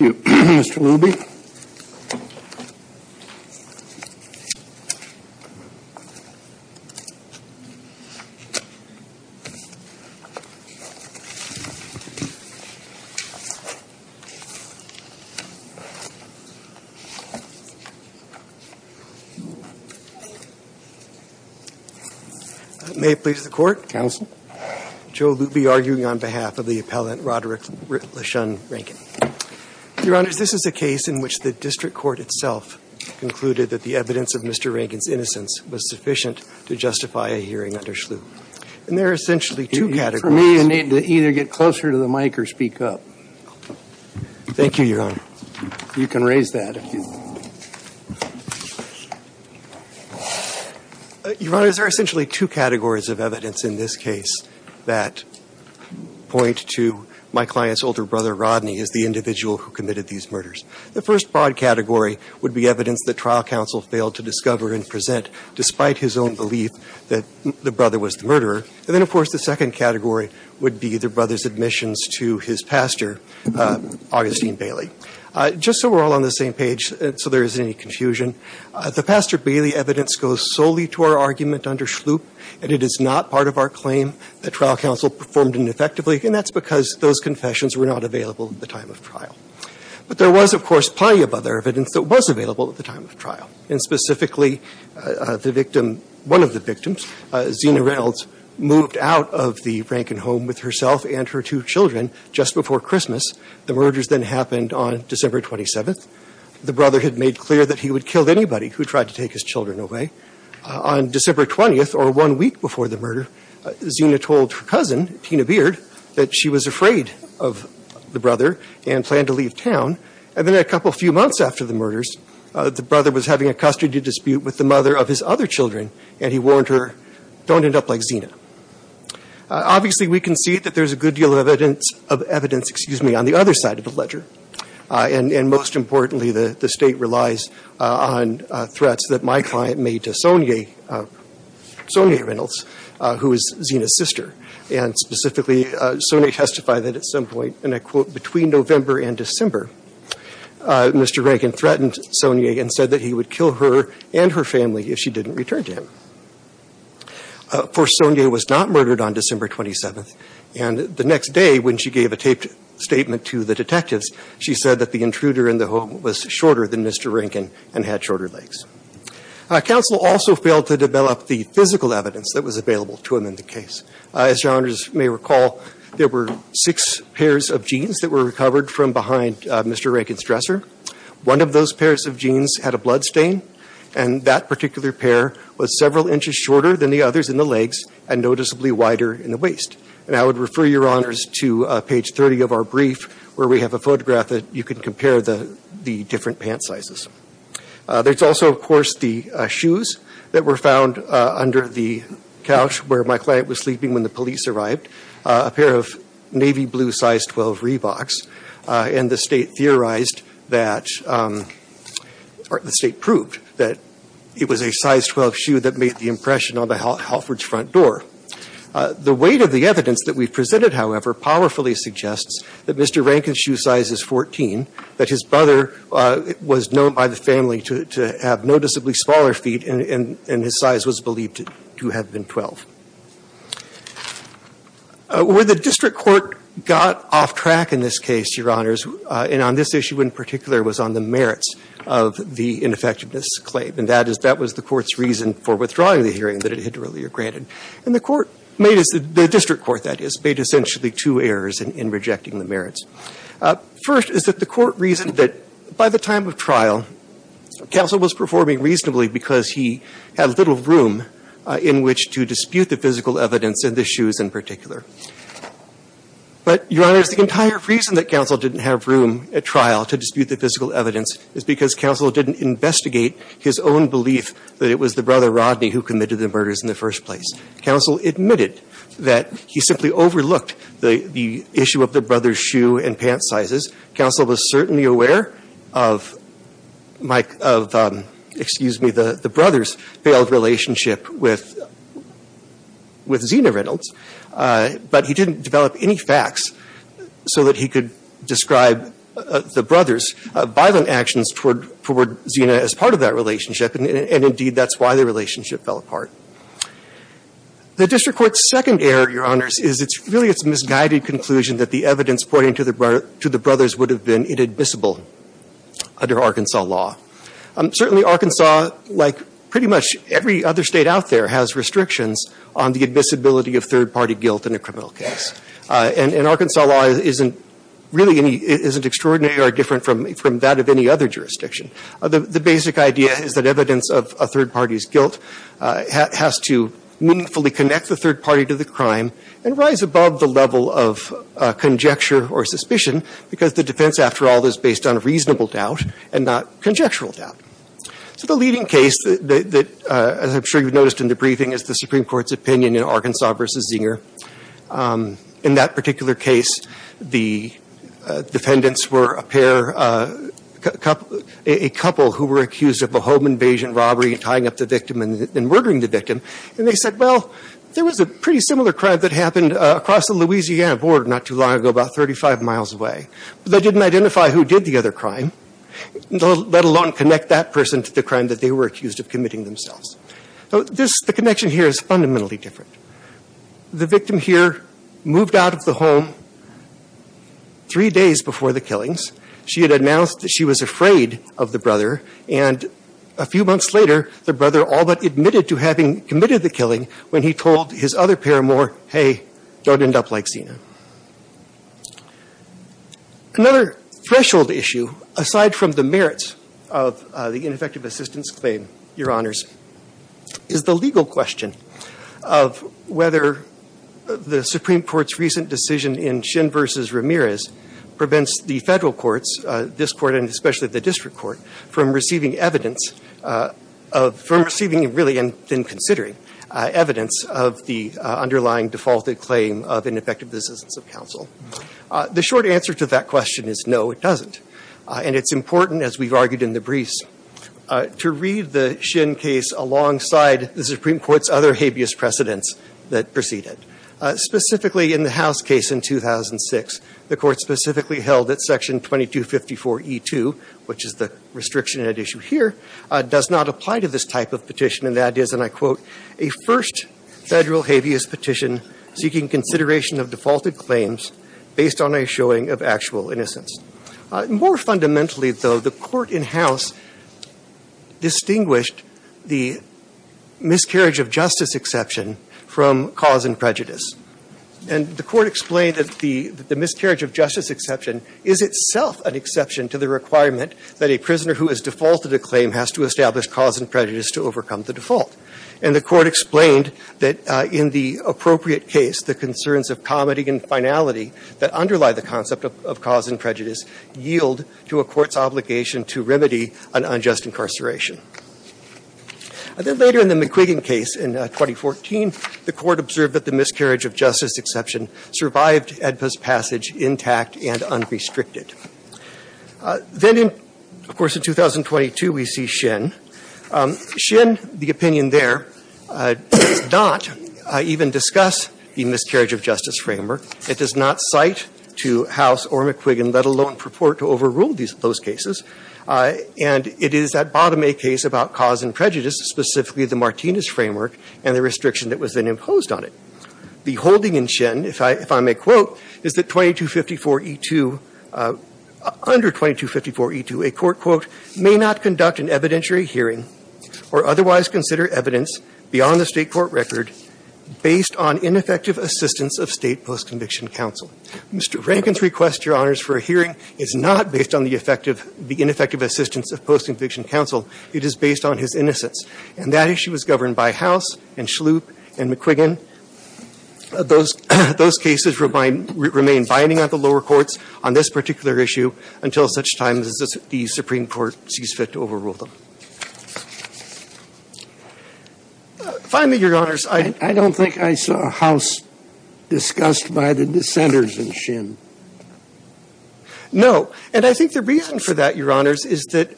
Thank you, Mr. Luby. May it please the Court? Counsel. Joe Luby, arguing on behalf of the appellant Roderick LaShun Rankin. Your Honors, this is a case in which the district court itself concluded that the evidence of Mr. Rankin's innocence was sufficient to justify a hearing under Schlup. And there are essentially two categories. For me, you need to either get closer to the mic or speak up. Thank you, Your Honor. You can raise that if you'd like. Your Honors, there are essentially two categories of evidence in this case that point to my client's older brother, Rodney, as the individual who committed these murders. The first broad category would be evidence that trial counsel failed to discover and present, despite his own belief that the brother was the murderer. And then, of course, the second category would be the brother's admissions to his pastor, Augustine Bailey. Just so we're all on the same page, so there isn't any confusion, the Pastor Bailey evidence goes solely to our argument under Schlup. And it is not part of our claim that trial counsel performed ineffectively. And that's because those confessions were not available at the time of trial. But there was, of course, plenty of other evidence that was available at the time of trial. And specifically, the victim, one of the victims, Xena Reynolds, moved out of the Rankin home with herself and her two children just before Christmas. The murders then happened on December 27th. The brother had made clear that he would kill anybody who tried to take his children away. On December 20th, or one week before the murder, Xena told her cousin, Tina Beard, that she was afraid of the brother and planned to leave town. And then a couple few months after the murders, the brother was having a custody dispute with the mother of his other children, and he warned her, don't end up like Xena. Obviously, we can see that there's a good deal of evidence, excuse me, on the other side of the ledger. And most importantly, the State relies on threats that my client made to Sonia Reynolds, who is Xena's sister. And specifically, Sonia testified that at some point, and I quote, between November and December, Mr. Rankin threatened Sonia and said that he would kill her and her family if she didn't return to him. Of course, Sonia was not murdered on December 27th. And the next day, when she gave a statement to the detectives, she said that the intruder in the home was shorter than Mr. Rankin and had shorter legs. Counsel also failed to develop the physical evidence that was available to him in the case. As your honors may recall, there were six pairs of jeans that were recovered from behind Mr. Rankin's dresser. One of those pairs of jeans had a bloodstain, and that particular pair was several inches shorter than the others in the legs and noticeably wider in the waist. And I would refer your honors to page 30 of our brief, where we have a photograph that you can compare the different pant sizes. There's also, of course, the shoes that were found under the couch where my client was sleeping when the police arrived, a pair of navy blue size 12 Reeboks. And the State theorized that, or the State proved that it was a size 12 shoe that made the impression on the Halfords' front door. The weight of the evidence that we've presented, however, powerfully suggests that Mr. Rankin's shoe size is 14, that his brother was known by the family to have noticeably smaller feet, and his size was believed to have been 12. Where the district court got off track in this case, your honors, and on this issue in particular, was on the merits of the ineffectiveness claim, and that was the court's reason for withdrawing the hearing that it had earlier granted. The district court, that is, made essentially two errors in rejecting the merits. First is that the court reasoned that by the time of trial, counsel was performing reasonably because he had little room in which to dispute the physical evidence in the shoes in particular. But, your honors, the entire reason that counsel didn't have room at trial to dispute the physical evidence is because counsel didn't investigate his own belief that it was the brother, Rodney, who committed the murders in the first place. Counsel admitted that he simply overlooked the issue of the brother's shoe and pant sizes. Counsel was certainly aware of, excuse me, the brother's failed relationship with Xena Reynolds, but he didn't develop any facts so that he could describe the violent actions toward Xena as part of that relationship, and indeed that's why the relationship fell apart. The district court's second error, your honors, is really its misguided conclusion that the evidence pointing to the brothers would have been inadmissible under Arkansas law. Certainly Arkansas, like pretty much every other state out there, has restrictions on the admissibility of third-party guilt in a criminal case. And Arkansas law really isn't extraordinary or different from that of any other jurisdiction. The basic idea is that evidence of a third party's guilt has to meaningfully connect the third party to the crime and rise above the level of conjecture or suspicion because the defense, after all, is based on reasonable doubt and not conjectural doubt. So the leading case that, as I'm sure you've noticed in the briefing, is the in that particular case the defendants were a couple who were accused of a home invasion robbery and tying up the victim and murdering the victim. And they said, well, there was a pretty similar crime that happened across the Louisiana border not too long ago, about 35 miles away. But they didn't identify who did the other crime, let alone connect that person to the crime that they were accused of committing themselves. So the connection here is fundamentally different. The victim here moved out of the home three days before the killings. She had announced that she was afraid of the brother. And a few months later, the brother all but admitted to having committed the killing when he told his other pair more, hey, don't end up like Xena. Another threshold issue, aside from the merits of the ineffective assistance claim, your honors, is the legal question of whether the Supreme Court's recent decision in Shin versus Ramirez prevents the federal courts, this court and especially the district court, from receiving evidence of, from receiving really and then considering evidence of the underlying defaulted claim of ineffective assistance of counsel. The short answer to that question is no, it doesn't. And it's important, as we've argued in the briefs, to read the Shin case alongside the Supreme Court's other habeas precedents that preceded it. Specifically in the House case in 2006, the court specifically held that section 2254E2, which is the restriction at issue here, does not apply to this type of petition, and that is, and I quote, a first federal habeas petition seeking consideration of defaulted claims based on a showing of actual innocence. More fundamentally, though, the court in House distinguished the miscarriage of justice exception from cause and prejudice. And the court explained that the miscarriage of justice exception is itself an exception to the requirement that a prisoner who has defaulted a claim has to establish cause and prejudice to overcome the default. And the court explained that in the appropriate case, the concerns of comity and finality that underlie the concept of cause and prejudice yield to a court's obligation to remedy an unjust incarceration. Then later in the McQuiggan case in 2014, the court observed that the miscarriage of justice exception survived AEDPA's passage intact and unrestricted. Then, of course, in 2022, we see Shin. Shin, the opinion there, does not even discuss the miscarriage of justice exception in the Martinez framework. It does not cite to House or McQuiggan, let alone purport to overrule those cases. And it is at bottom a case about cause and prejudice, specifically the Martinez framework and the restriction that was then imposed on it. The holding in Shin, if I may quote, is that 2254E2, under 2254E2, a court, quote, may not conduct an evidentiary hearing or otherwise consider evidence beyond the record based on ineffective assistance of state post-conviction counsel. Mr. Rankin's request, Your Honors, for a hearing is not based on the ineffective assistance of post-conviction counsel. It is based on his innocence. And that issue is governed by House and Schlup and McQuiggan. Those cases remain binding on the lower courts on this particular issue until such time as the Supreme Court sees fit to overrule them. Finally, Your Honors, I don't think I saw House discussed by the dissenters in Shin. No. And I think the reason for that, Your Honors, is that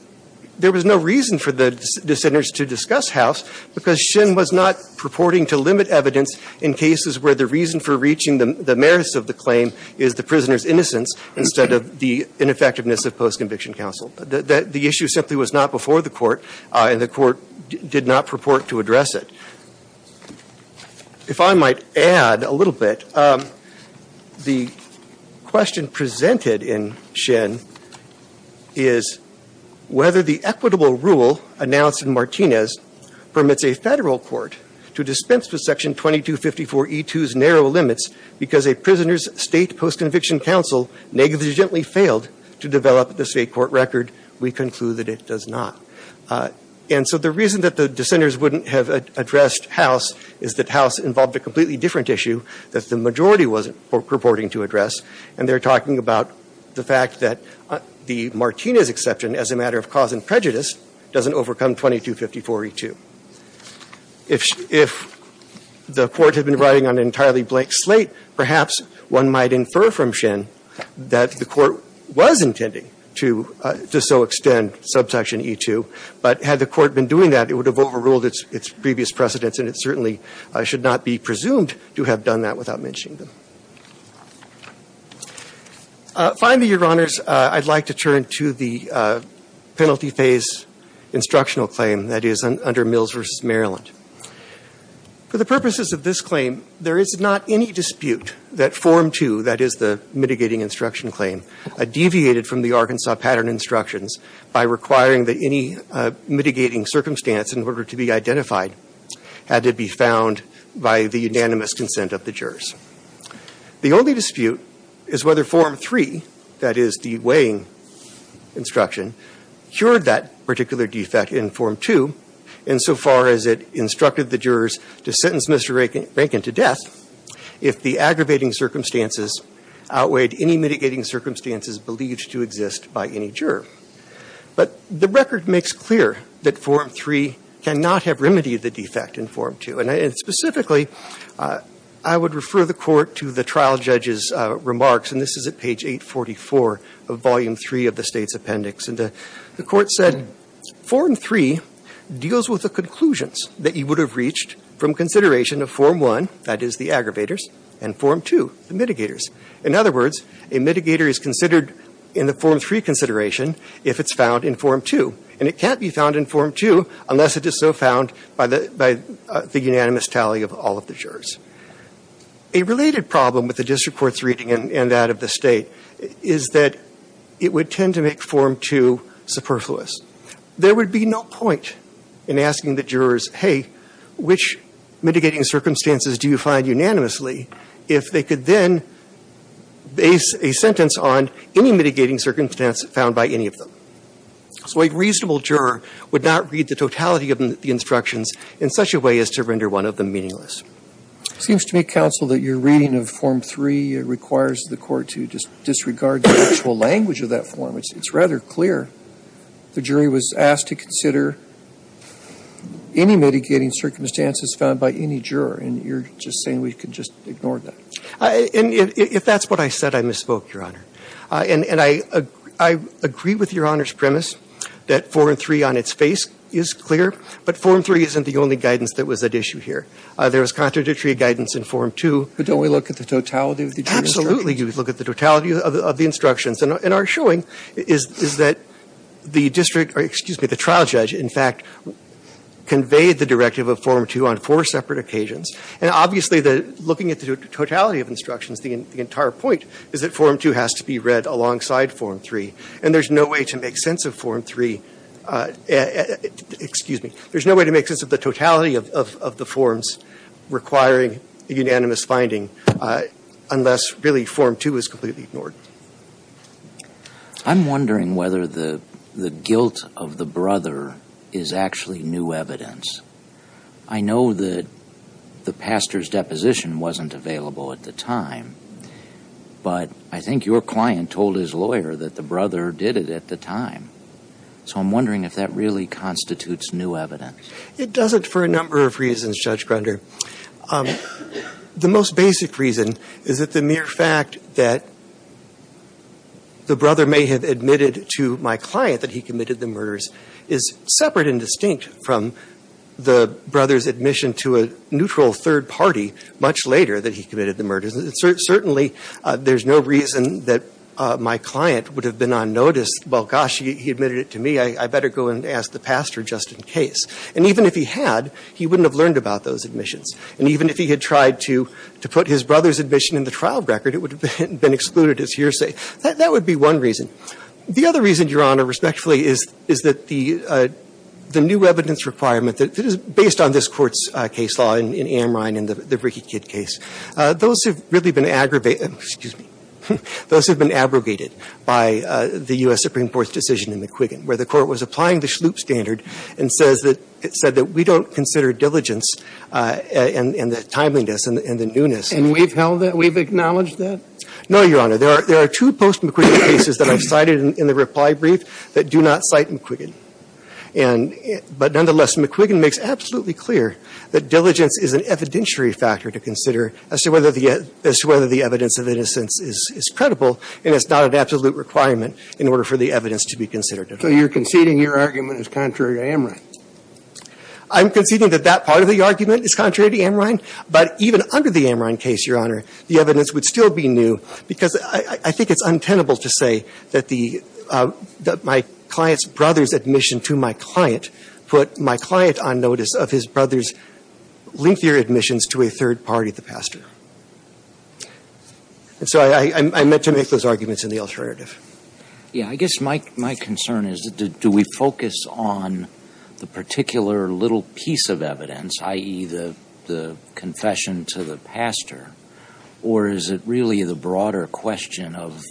there was no reason for the dissenters to discuss House because Shin was not purporting to limit evidence in cases where the reason for reaching the merits of the claim is the prisoner's innocence instead of the ineffectiveness of post-conviction counsel. The issue simply was not before the court, and the court did not purport to address it. If I might add a little bit, the question presented in Shin is whether the equitable rule announced in Martinez permits a federal court to dispense with Section 2254E2's narrow limits because a prisoner's state post-conviction counsel negligently failed to develop the state court record. We conclude that it does not. And so the reason that the dissenters wouldn't have addressed House is that House involved a completely different issue that the majority wasn't purporting to address, and they're talking about the fact that the Martinez exception, as a matter of cause and prejudice, doesn't overcome 2254E2. If the court had been riding on an entirely blank slate, perhaps one might infer from Shin that the court was intending to so extend subsection E2, but had the court been doing that, it would have overruled its previous precedents, and it certainly should not be presumed to have done that without mentioning them. Finally, Your Honors, I'd like to turn to the penalty phase instructional claim that is under Mills v. Maryland. For the purposes of this claim, there is not any dispute that Form 2, that is the mitigating instruction claim, deviated from the Arkansas pattern instructions by requiring that any mitigating circumstance in order to be identified had to be found by the unanimous consent of the jurors. The only dispute is whether Form 3, that is the weighing instruction, cured that particular defect in Form 2 insofar as it instructed the jurors to sentence Mr. Rankin to death if the aggravating circumstances outweighed any mitigating circumstances believed to exist by any juror. But the record makes clear that Form 3 cannot have remedied the defect in Form 2, and specifically, I would refer the court to the trial judge's remarks, and this is at page 844 of Volume 3 of the State's appendix. And the court said, Form 3 deals with the conclusions that you would have reached from consideration of Form 1, that is the aggravators, and Form 2, the mitigators. In other words, a mitigator is considered in the Form 3 consideration if it's found in Form 2, and it can't be found in Form 2 unless it is so found by the unanimous tally of all of the jurors. A related problem with the district court's reading and that of the State is that it would tend to make Form 2 superfluous. There would be no point in asking the jurors, hey, which mitigating circumstances do you find unanimously, if they could then base a sentence on any mitigating circumstance found by any of them. So a reasonable juror would not read the totality of the instructions in such a way as to render one of them meaningless. It seems to me, Counsel, that your reading of Form 3 requires the court to disregard the actual language of that form. It's rather clear. The jury was asked to consider any mitigating circumstances found by any juror, and you're just saying we could just ignore that. And if that's what I said, I misspoke, Your Honor. And I agree with Your Honor's premise that Form 3 on its face is clear, but Form 3 isn't the only guidance that was at issue here. There was contradictory guidance in Form 2. But don't we look at the totality of the jury instructions? Absolutely, you would look at the totality of the instructions. And our showing is that the district, or excuse me, the trial judge, in fact, conveyed the directive of Form 2 on four separate occasions. And obviously, looking at the totality of instructions, the entire point is that Form 2 has to be read alongside Form 3. And there's no way to make sense of Form 3. Excuse me. There's no way to make sense of the totality of the forms requiring a unanimous finding unless really Form 2 is completely ignored. I'm wondering whether the guilt of the brother is actually new evidence. I know that the pastor's deposition wasn't available at the time, but I think your client told his lawyer that the brother did it at the time. So I'm wondering if that really constitutes new evidence. It doesn't for a number of reasons, Judge Grunder. The most basic reason is that the mere fact that the brother may have admitted to my client that he committed the murders is separate and distinct from the brother's admission to a neutral third party much later that he committed the And certainly, there's no reason that my client would have been on notice, well, gosh, he admitted it to me. I better go and ask the pastor just in case. And even if he had, he wouldn't have learned about those admissions. And even if he had tried to put his brother's admission in the trial record, it would have been excluded as hearsay. That would be one reason. The other reason, Your Honor, respectfully, is that the new evidence requirement that is based on this Court's case law in Amrine and the Ricky Kidd case, those have really been aggravated, excuse me, those have been abrogated by the U.S. Supreme Court's decision in McQuiggan, where the Court was applying the Shloop standard and said that we don't consider diligence and the timeliness and the newness. And we've held that? We've acknowledged that? No, Your Honor. There are two post-McQuiggan cases that I've cited in the reply brief that do not cite McQuiggan. But nonetheless, McQuiggan makes absolutely clear that diligence is an evidentiary factor to consider as to whether the evidence of innocence is credible, and it's not an absolute requirement in order for the evidence to be considered. So you're conceding your argument is contrary to Amrine? I'm conceding that that part of the argument is contrary to Amrine. But even under the Amrine case, Your Honor, the evidence would still be new, because I think it's untenable to say that my client's brother's admission to my client put my client on notice of his brother's lengthier admissions to a third party, the And so I meant to make those arguments in the alternative. Yeah. I guess my concern is, do we focus on the particular little piece of evidence, i.e., the confession to the pastor? Or is it really the broader question of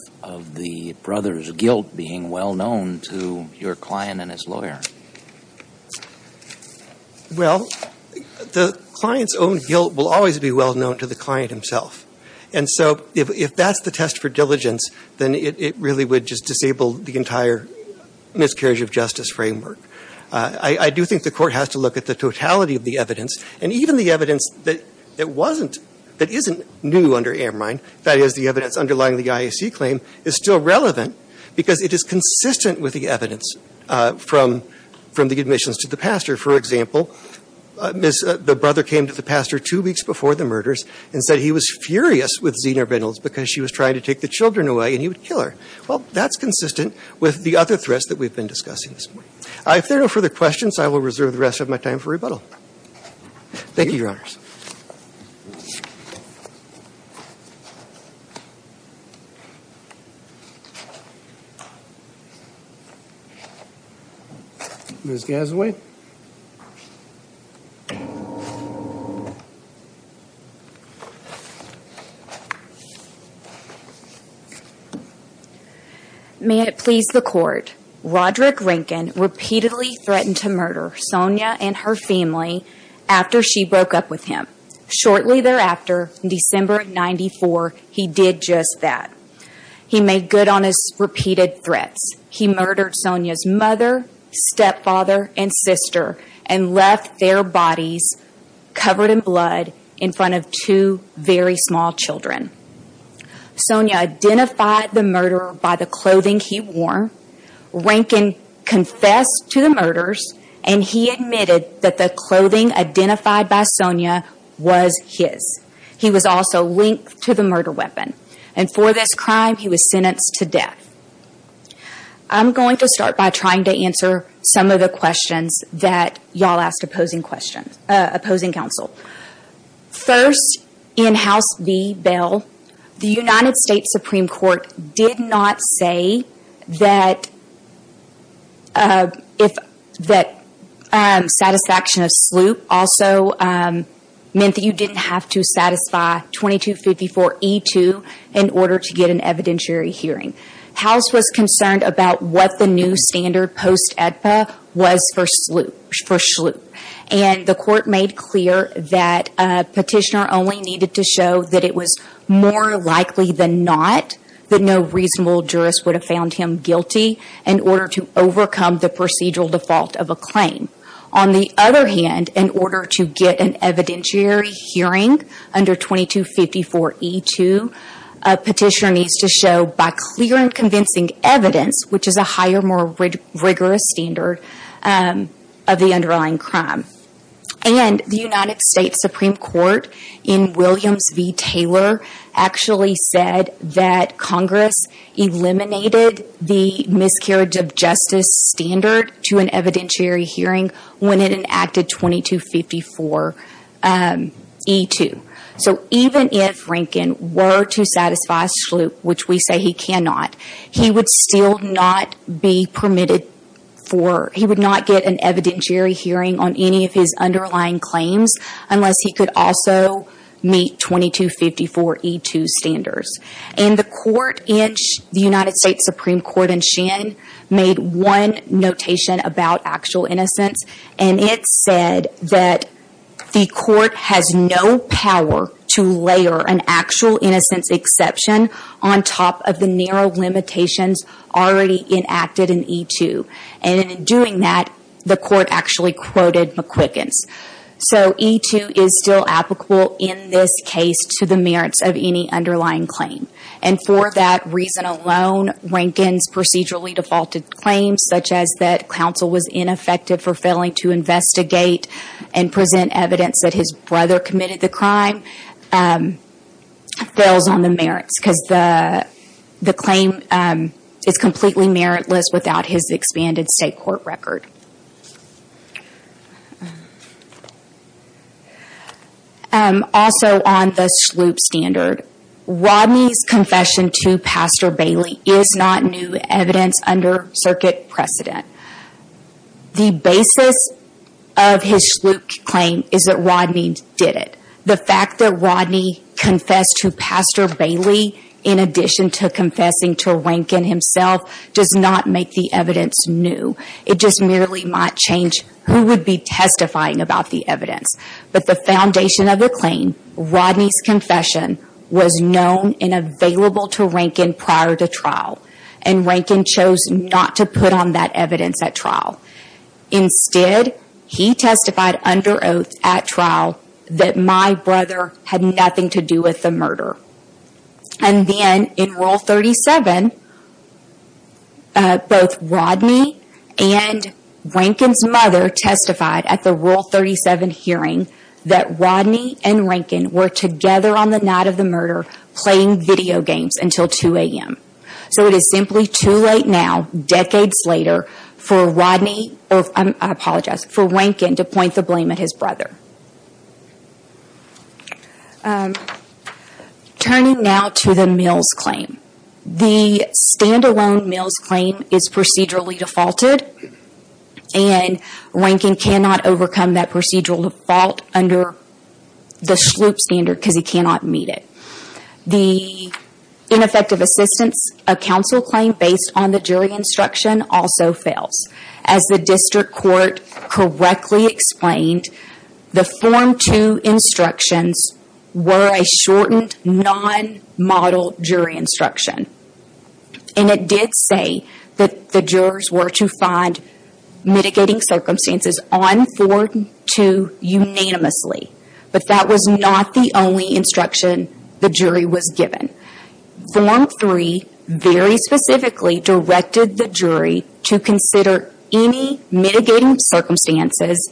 the brother's guilt being well known to your client and his lawyer? Well, the client's own guilt will always be well known to the client himself. And so if that's the test for diligence, then it really would just disable the entire miscarriage of justice framework. I do think the Court has to look at the totality of the evidence. And even the evidence that wasn't, that isn't new under Amrine, that is, the evidence underlying the IAC claim, is still relevant, because it is consistent with the evidence from the admissions to the pastor. For example, the brother came to the pastor two weeks before the murders and said he was furious with Zina Reynolds because she was trying to take the children away and he would kill her. Well, that's consistent with the other threats that we've been discussing this morning. If there are no further questions, I will reserve the rest of my time for rebuttal. Thank you, Your Honors. Ms. Galloway? May it please the Court, Roderick Rinken repeatedly threatened to murder Sonia and her family after she broke up with him. Shortly thereafter, in December of 1994, he did just that. He made good on his repeated threats. He murdered Sonia's mother, stepfather, and sister and left their bodies covered in blood in front of two very small children. Sonia identified the murderer by the clothing he wore. Rinken confessed to the murders and he admitted that the clothing identified by Sonia was his. He was also linked to the murder weapon. For this crime, he was sentenced to death. I'm going to start by trying to answer some of the questions that y'all asked opposing counsel. First, in House B, Bell, the United States Supreme Court did not say that satisfaction of sloop also meant that you didn't have to satisfy 2254E2 in order to get an evidentiary hearing. House was concerned about what the new standard post-EDPA was for sloop. The Court made clear that Petitioner only needed to show that it was more likely than not that no reasonable jurist would have found him guilty in order to overcome the procedural default of a claim. On the other hand, in order to get an evidentiary hearing under 2254E2, Petitioner needs to show by clear and convincing evidence, which is a higher, more rigorous standard of the underlying crime. The United States Supreme Court in Williams v. Taylor actually said that Congress eliminated the miscarriage of justice standard to an evidentiary hearing when it enacted 2254E2. Even if Rankin were to satisfy sloop, which we say he cannot, he would not get an evidentiary hearing on any of his underlying claims unless he could also meet 2254E2 standards. The United States Supreme Court in Shen made one notation about actual innocence, and it said that the Court has no power to layer an actual innocence exception on top of the narrow limitations already enacted in 2254E2. In doing that, the Court actually quoted McQuicken's. 2254E2 is still applicable in this case to the merits of any underlying claim. For that reason alone, Rankin's procedurally defaulted claims, such as that counsel was ineffective for failing to investigate and present evidence that his brother committed the crime, fails on the merits because the claim is completely meritless without his expanded state court record. Also on the sloop standard, Rodney's confession to Pastor Bailey is not new evidence under circuit precedent. The basis of his sloop claim is that Rodney did it. The fact that Rodney confessed to Pastor Bailey in addition to confessing to Rankin himself does not make the evidence new. It just merely might change who would be testifying about the evidence. But the foundation of the claim, Rodney's confession, was known and available to Rankin prior to trial, and Rankin chose not to put on that evidence at trial. Instead, he testified under oath at trial that my brother had nothing to do with the murder. And then in Rule 37, both Rodney and Rankin's mother testified at the Rule 37 hearing that Rodney and Rankin were together on the night of the murder playing video games until 2 a.m. So it is simply too late now, decades later, for Rankin to point the blame at his brother. Turning now to the Mills claim. The standalone Mills claim is procedurally defaulted, and Rankin cannot overcome that procedural default under the sloop standard because he cannot meet it. The ineffective assistance of counsel claim based on the jury instruction also fails. As the district court correctly explained, the Form 2 instructions were a shortened, non-model jury instruction. And it did say that the jurors were to find mitigating circumstances on Form 2 unanimously. But that was not the only instruction the jury was given. Form 3 very specifically directed the jury to consider any mitigating circumstances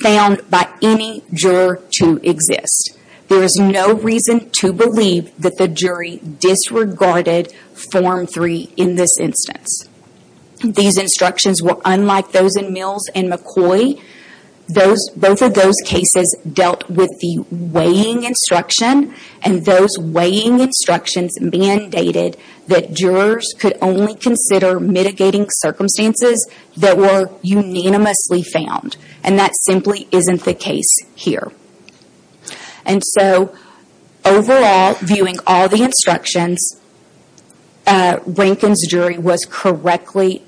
found by any juror to exist. There is no reason to believe that the jury disregarded Form 3 in this instance. These instructions were unlike those in Mills and McCoy. Both of those cases dealt with the weighing instruction, and those weighing instructions mandated that jurors could only consider mitigating circumstances that were unanimously found. And that simply isn't the case here. Overall, viewing all the instructions, Rankin's jury was correctly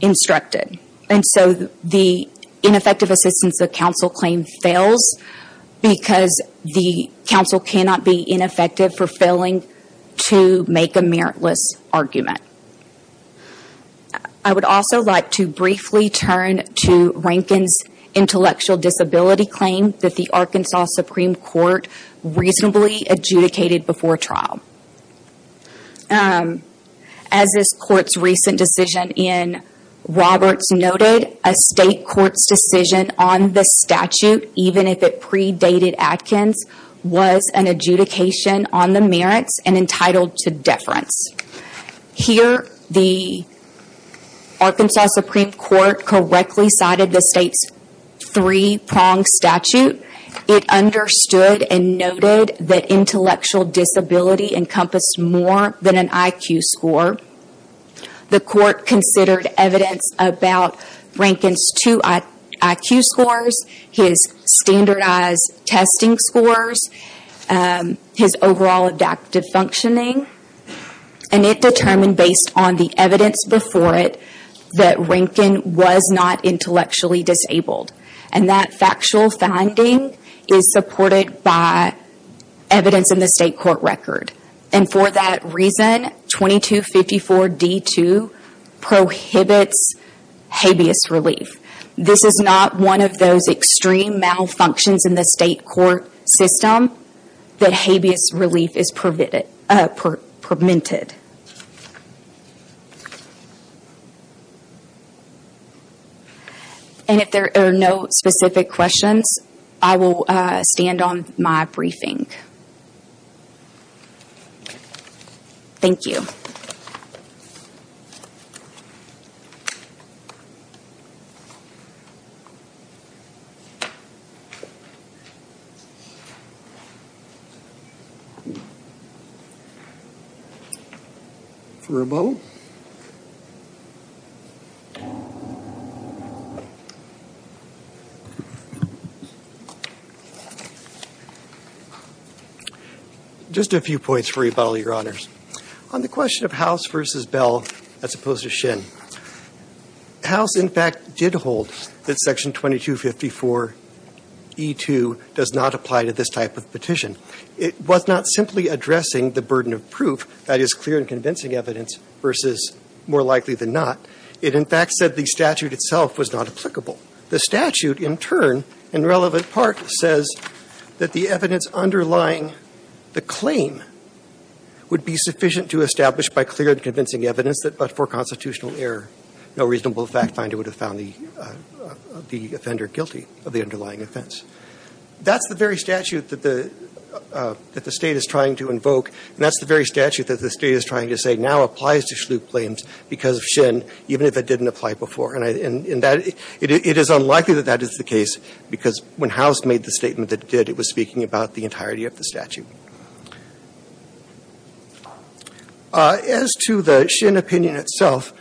instructed. And so the ineffective assistance of counsel claim fails because the counsel cannot be ineffective for failing to make a meritless argument. I would also like to briefly turn to Rankin's intellectual disability claim that the Arkansas Supreme Court reasonably adjudicated before trial. As this court's recent decision in Roberts noted, a state court's decision on the statute, even if it predated Atkins, was an adjudication on the merits and entitled to deference. Here, the Arkansas Supreme Court correctly cited the state's three-prong statute. It understood and noted that intellectual disability encompassed more than an IQ score. The court considered evidence about Rankin's two IQ scores, his standardized testing scores, his overall adaptive functioning. And it determined, based on the evidence before it, that Rankin was not intellectually disabled. And that factual finding is supported by evidence in the state court record. And for that reason, 2254D2 prohibits habeas relief. This is not one of those extreme malfunctions in the state court system that habeas relief is permitted. And if there are no specific questions, I will stand on my briefing. Thank you. For a moment. Just a few points for you, Your Honors. On the question of House v. Bell as opposed to Shin, House, in fact, did hold that Section 2254E2 does not apply to this type of petition. It was not simply addressing the burden of proof, that is, clear and convincing evidence versus more likely than not. It, in fact, said the statute itself was not applicable. The statute, in turn, in relevant part, says that the evidence underlying the claim would be sufficient to establish by clear and convincing evidence that but for constitutional error, no reasonable fact finder would have found the offender guilty of the underlying offense. That's the very statute that the State is trying to invoke, and that's the very statute that the State is trying to say now applies to Shlue claims because of Shin, even if it didn't apply before. And in that, it is unlikely that that is the case, because when House made the statement that it did, it was speaking about the entirety of the statute. As to the Shin opinion itself,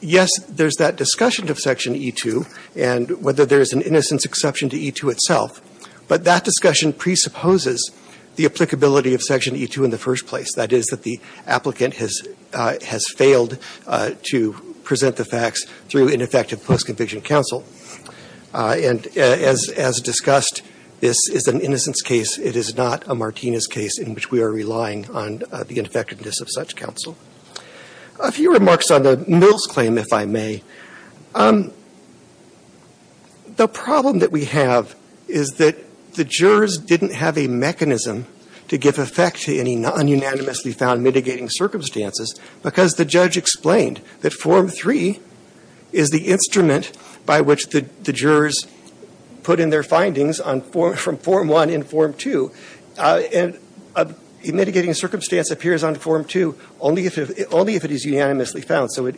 yes, there's that discussion of Section E2, and whether there is an innocence exception to E2 itself, but that discussion presupposes the applicability of Section E2 in the first place, that is, that the applicant has failed to present the facts through ineffective post-conviction counsel. And as discussed, this is an innocence case. It is not a Martinez case in which we are relying on the ineffectiveness of such counsel. A few remarks on the Mills claim, if I may. The problem that we have is that the jurors didn't have a mechanism to give effect to any non-unanimously found mitigating circumstances, because the judge explained that Form 3 is the instrument by which the jurors put in their findings from Form 1 and Form 2. And a mitigating circumstance appears on Form 2 only if it is unanimously found. So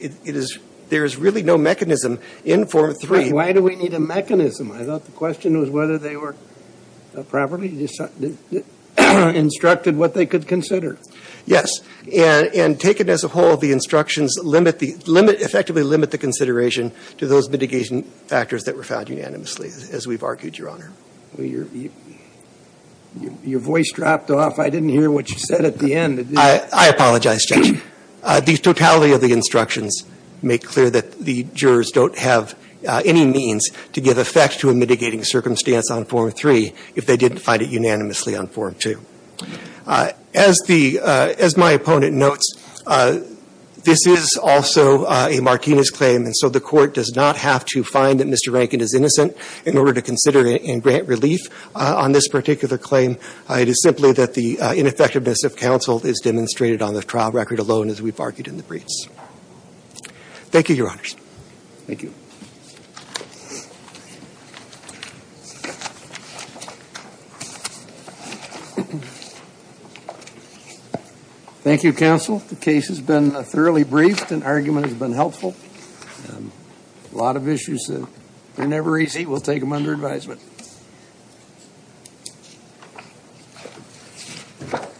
there is really no mechanism in Form 3. But why do we need a mechanism? I thought the question was whether they were properly instructed what they could consider. Yes. And taken as a whole, the instructions effectively limit the consideration to those mitigation factors that were found unanimously, as we've argued, Your Honor. Your voice dropped off. I didn't hear what you said at the end. I apologize, Judge. The totality of the instructions make clear that the jurors don't have any means to give effect to a mitigating circumstance on Form 3 if they didn't find it unanimously on Form 2. As my opponent notes, this is also a Martinez claim. And so the Court does not have to find that Mr. Rankin is innocent in order to consider and grant relief on this particular claim. It is simply that the ineffectiveness of counsel is demonstrated on the trial record alone, as we've argued in the briefs. Thank you, Your Honors. Thank you. Thank you, counsel. The case has been thoroughly briefed. An argument has been helpful. A lot of issues are never easy. We'll take them under advisement.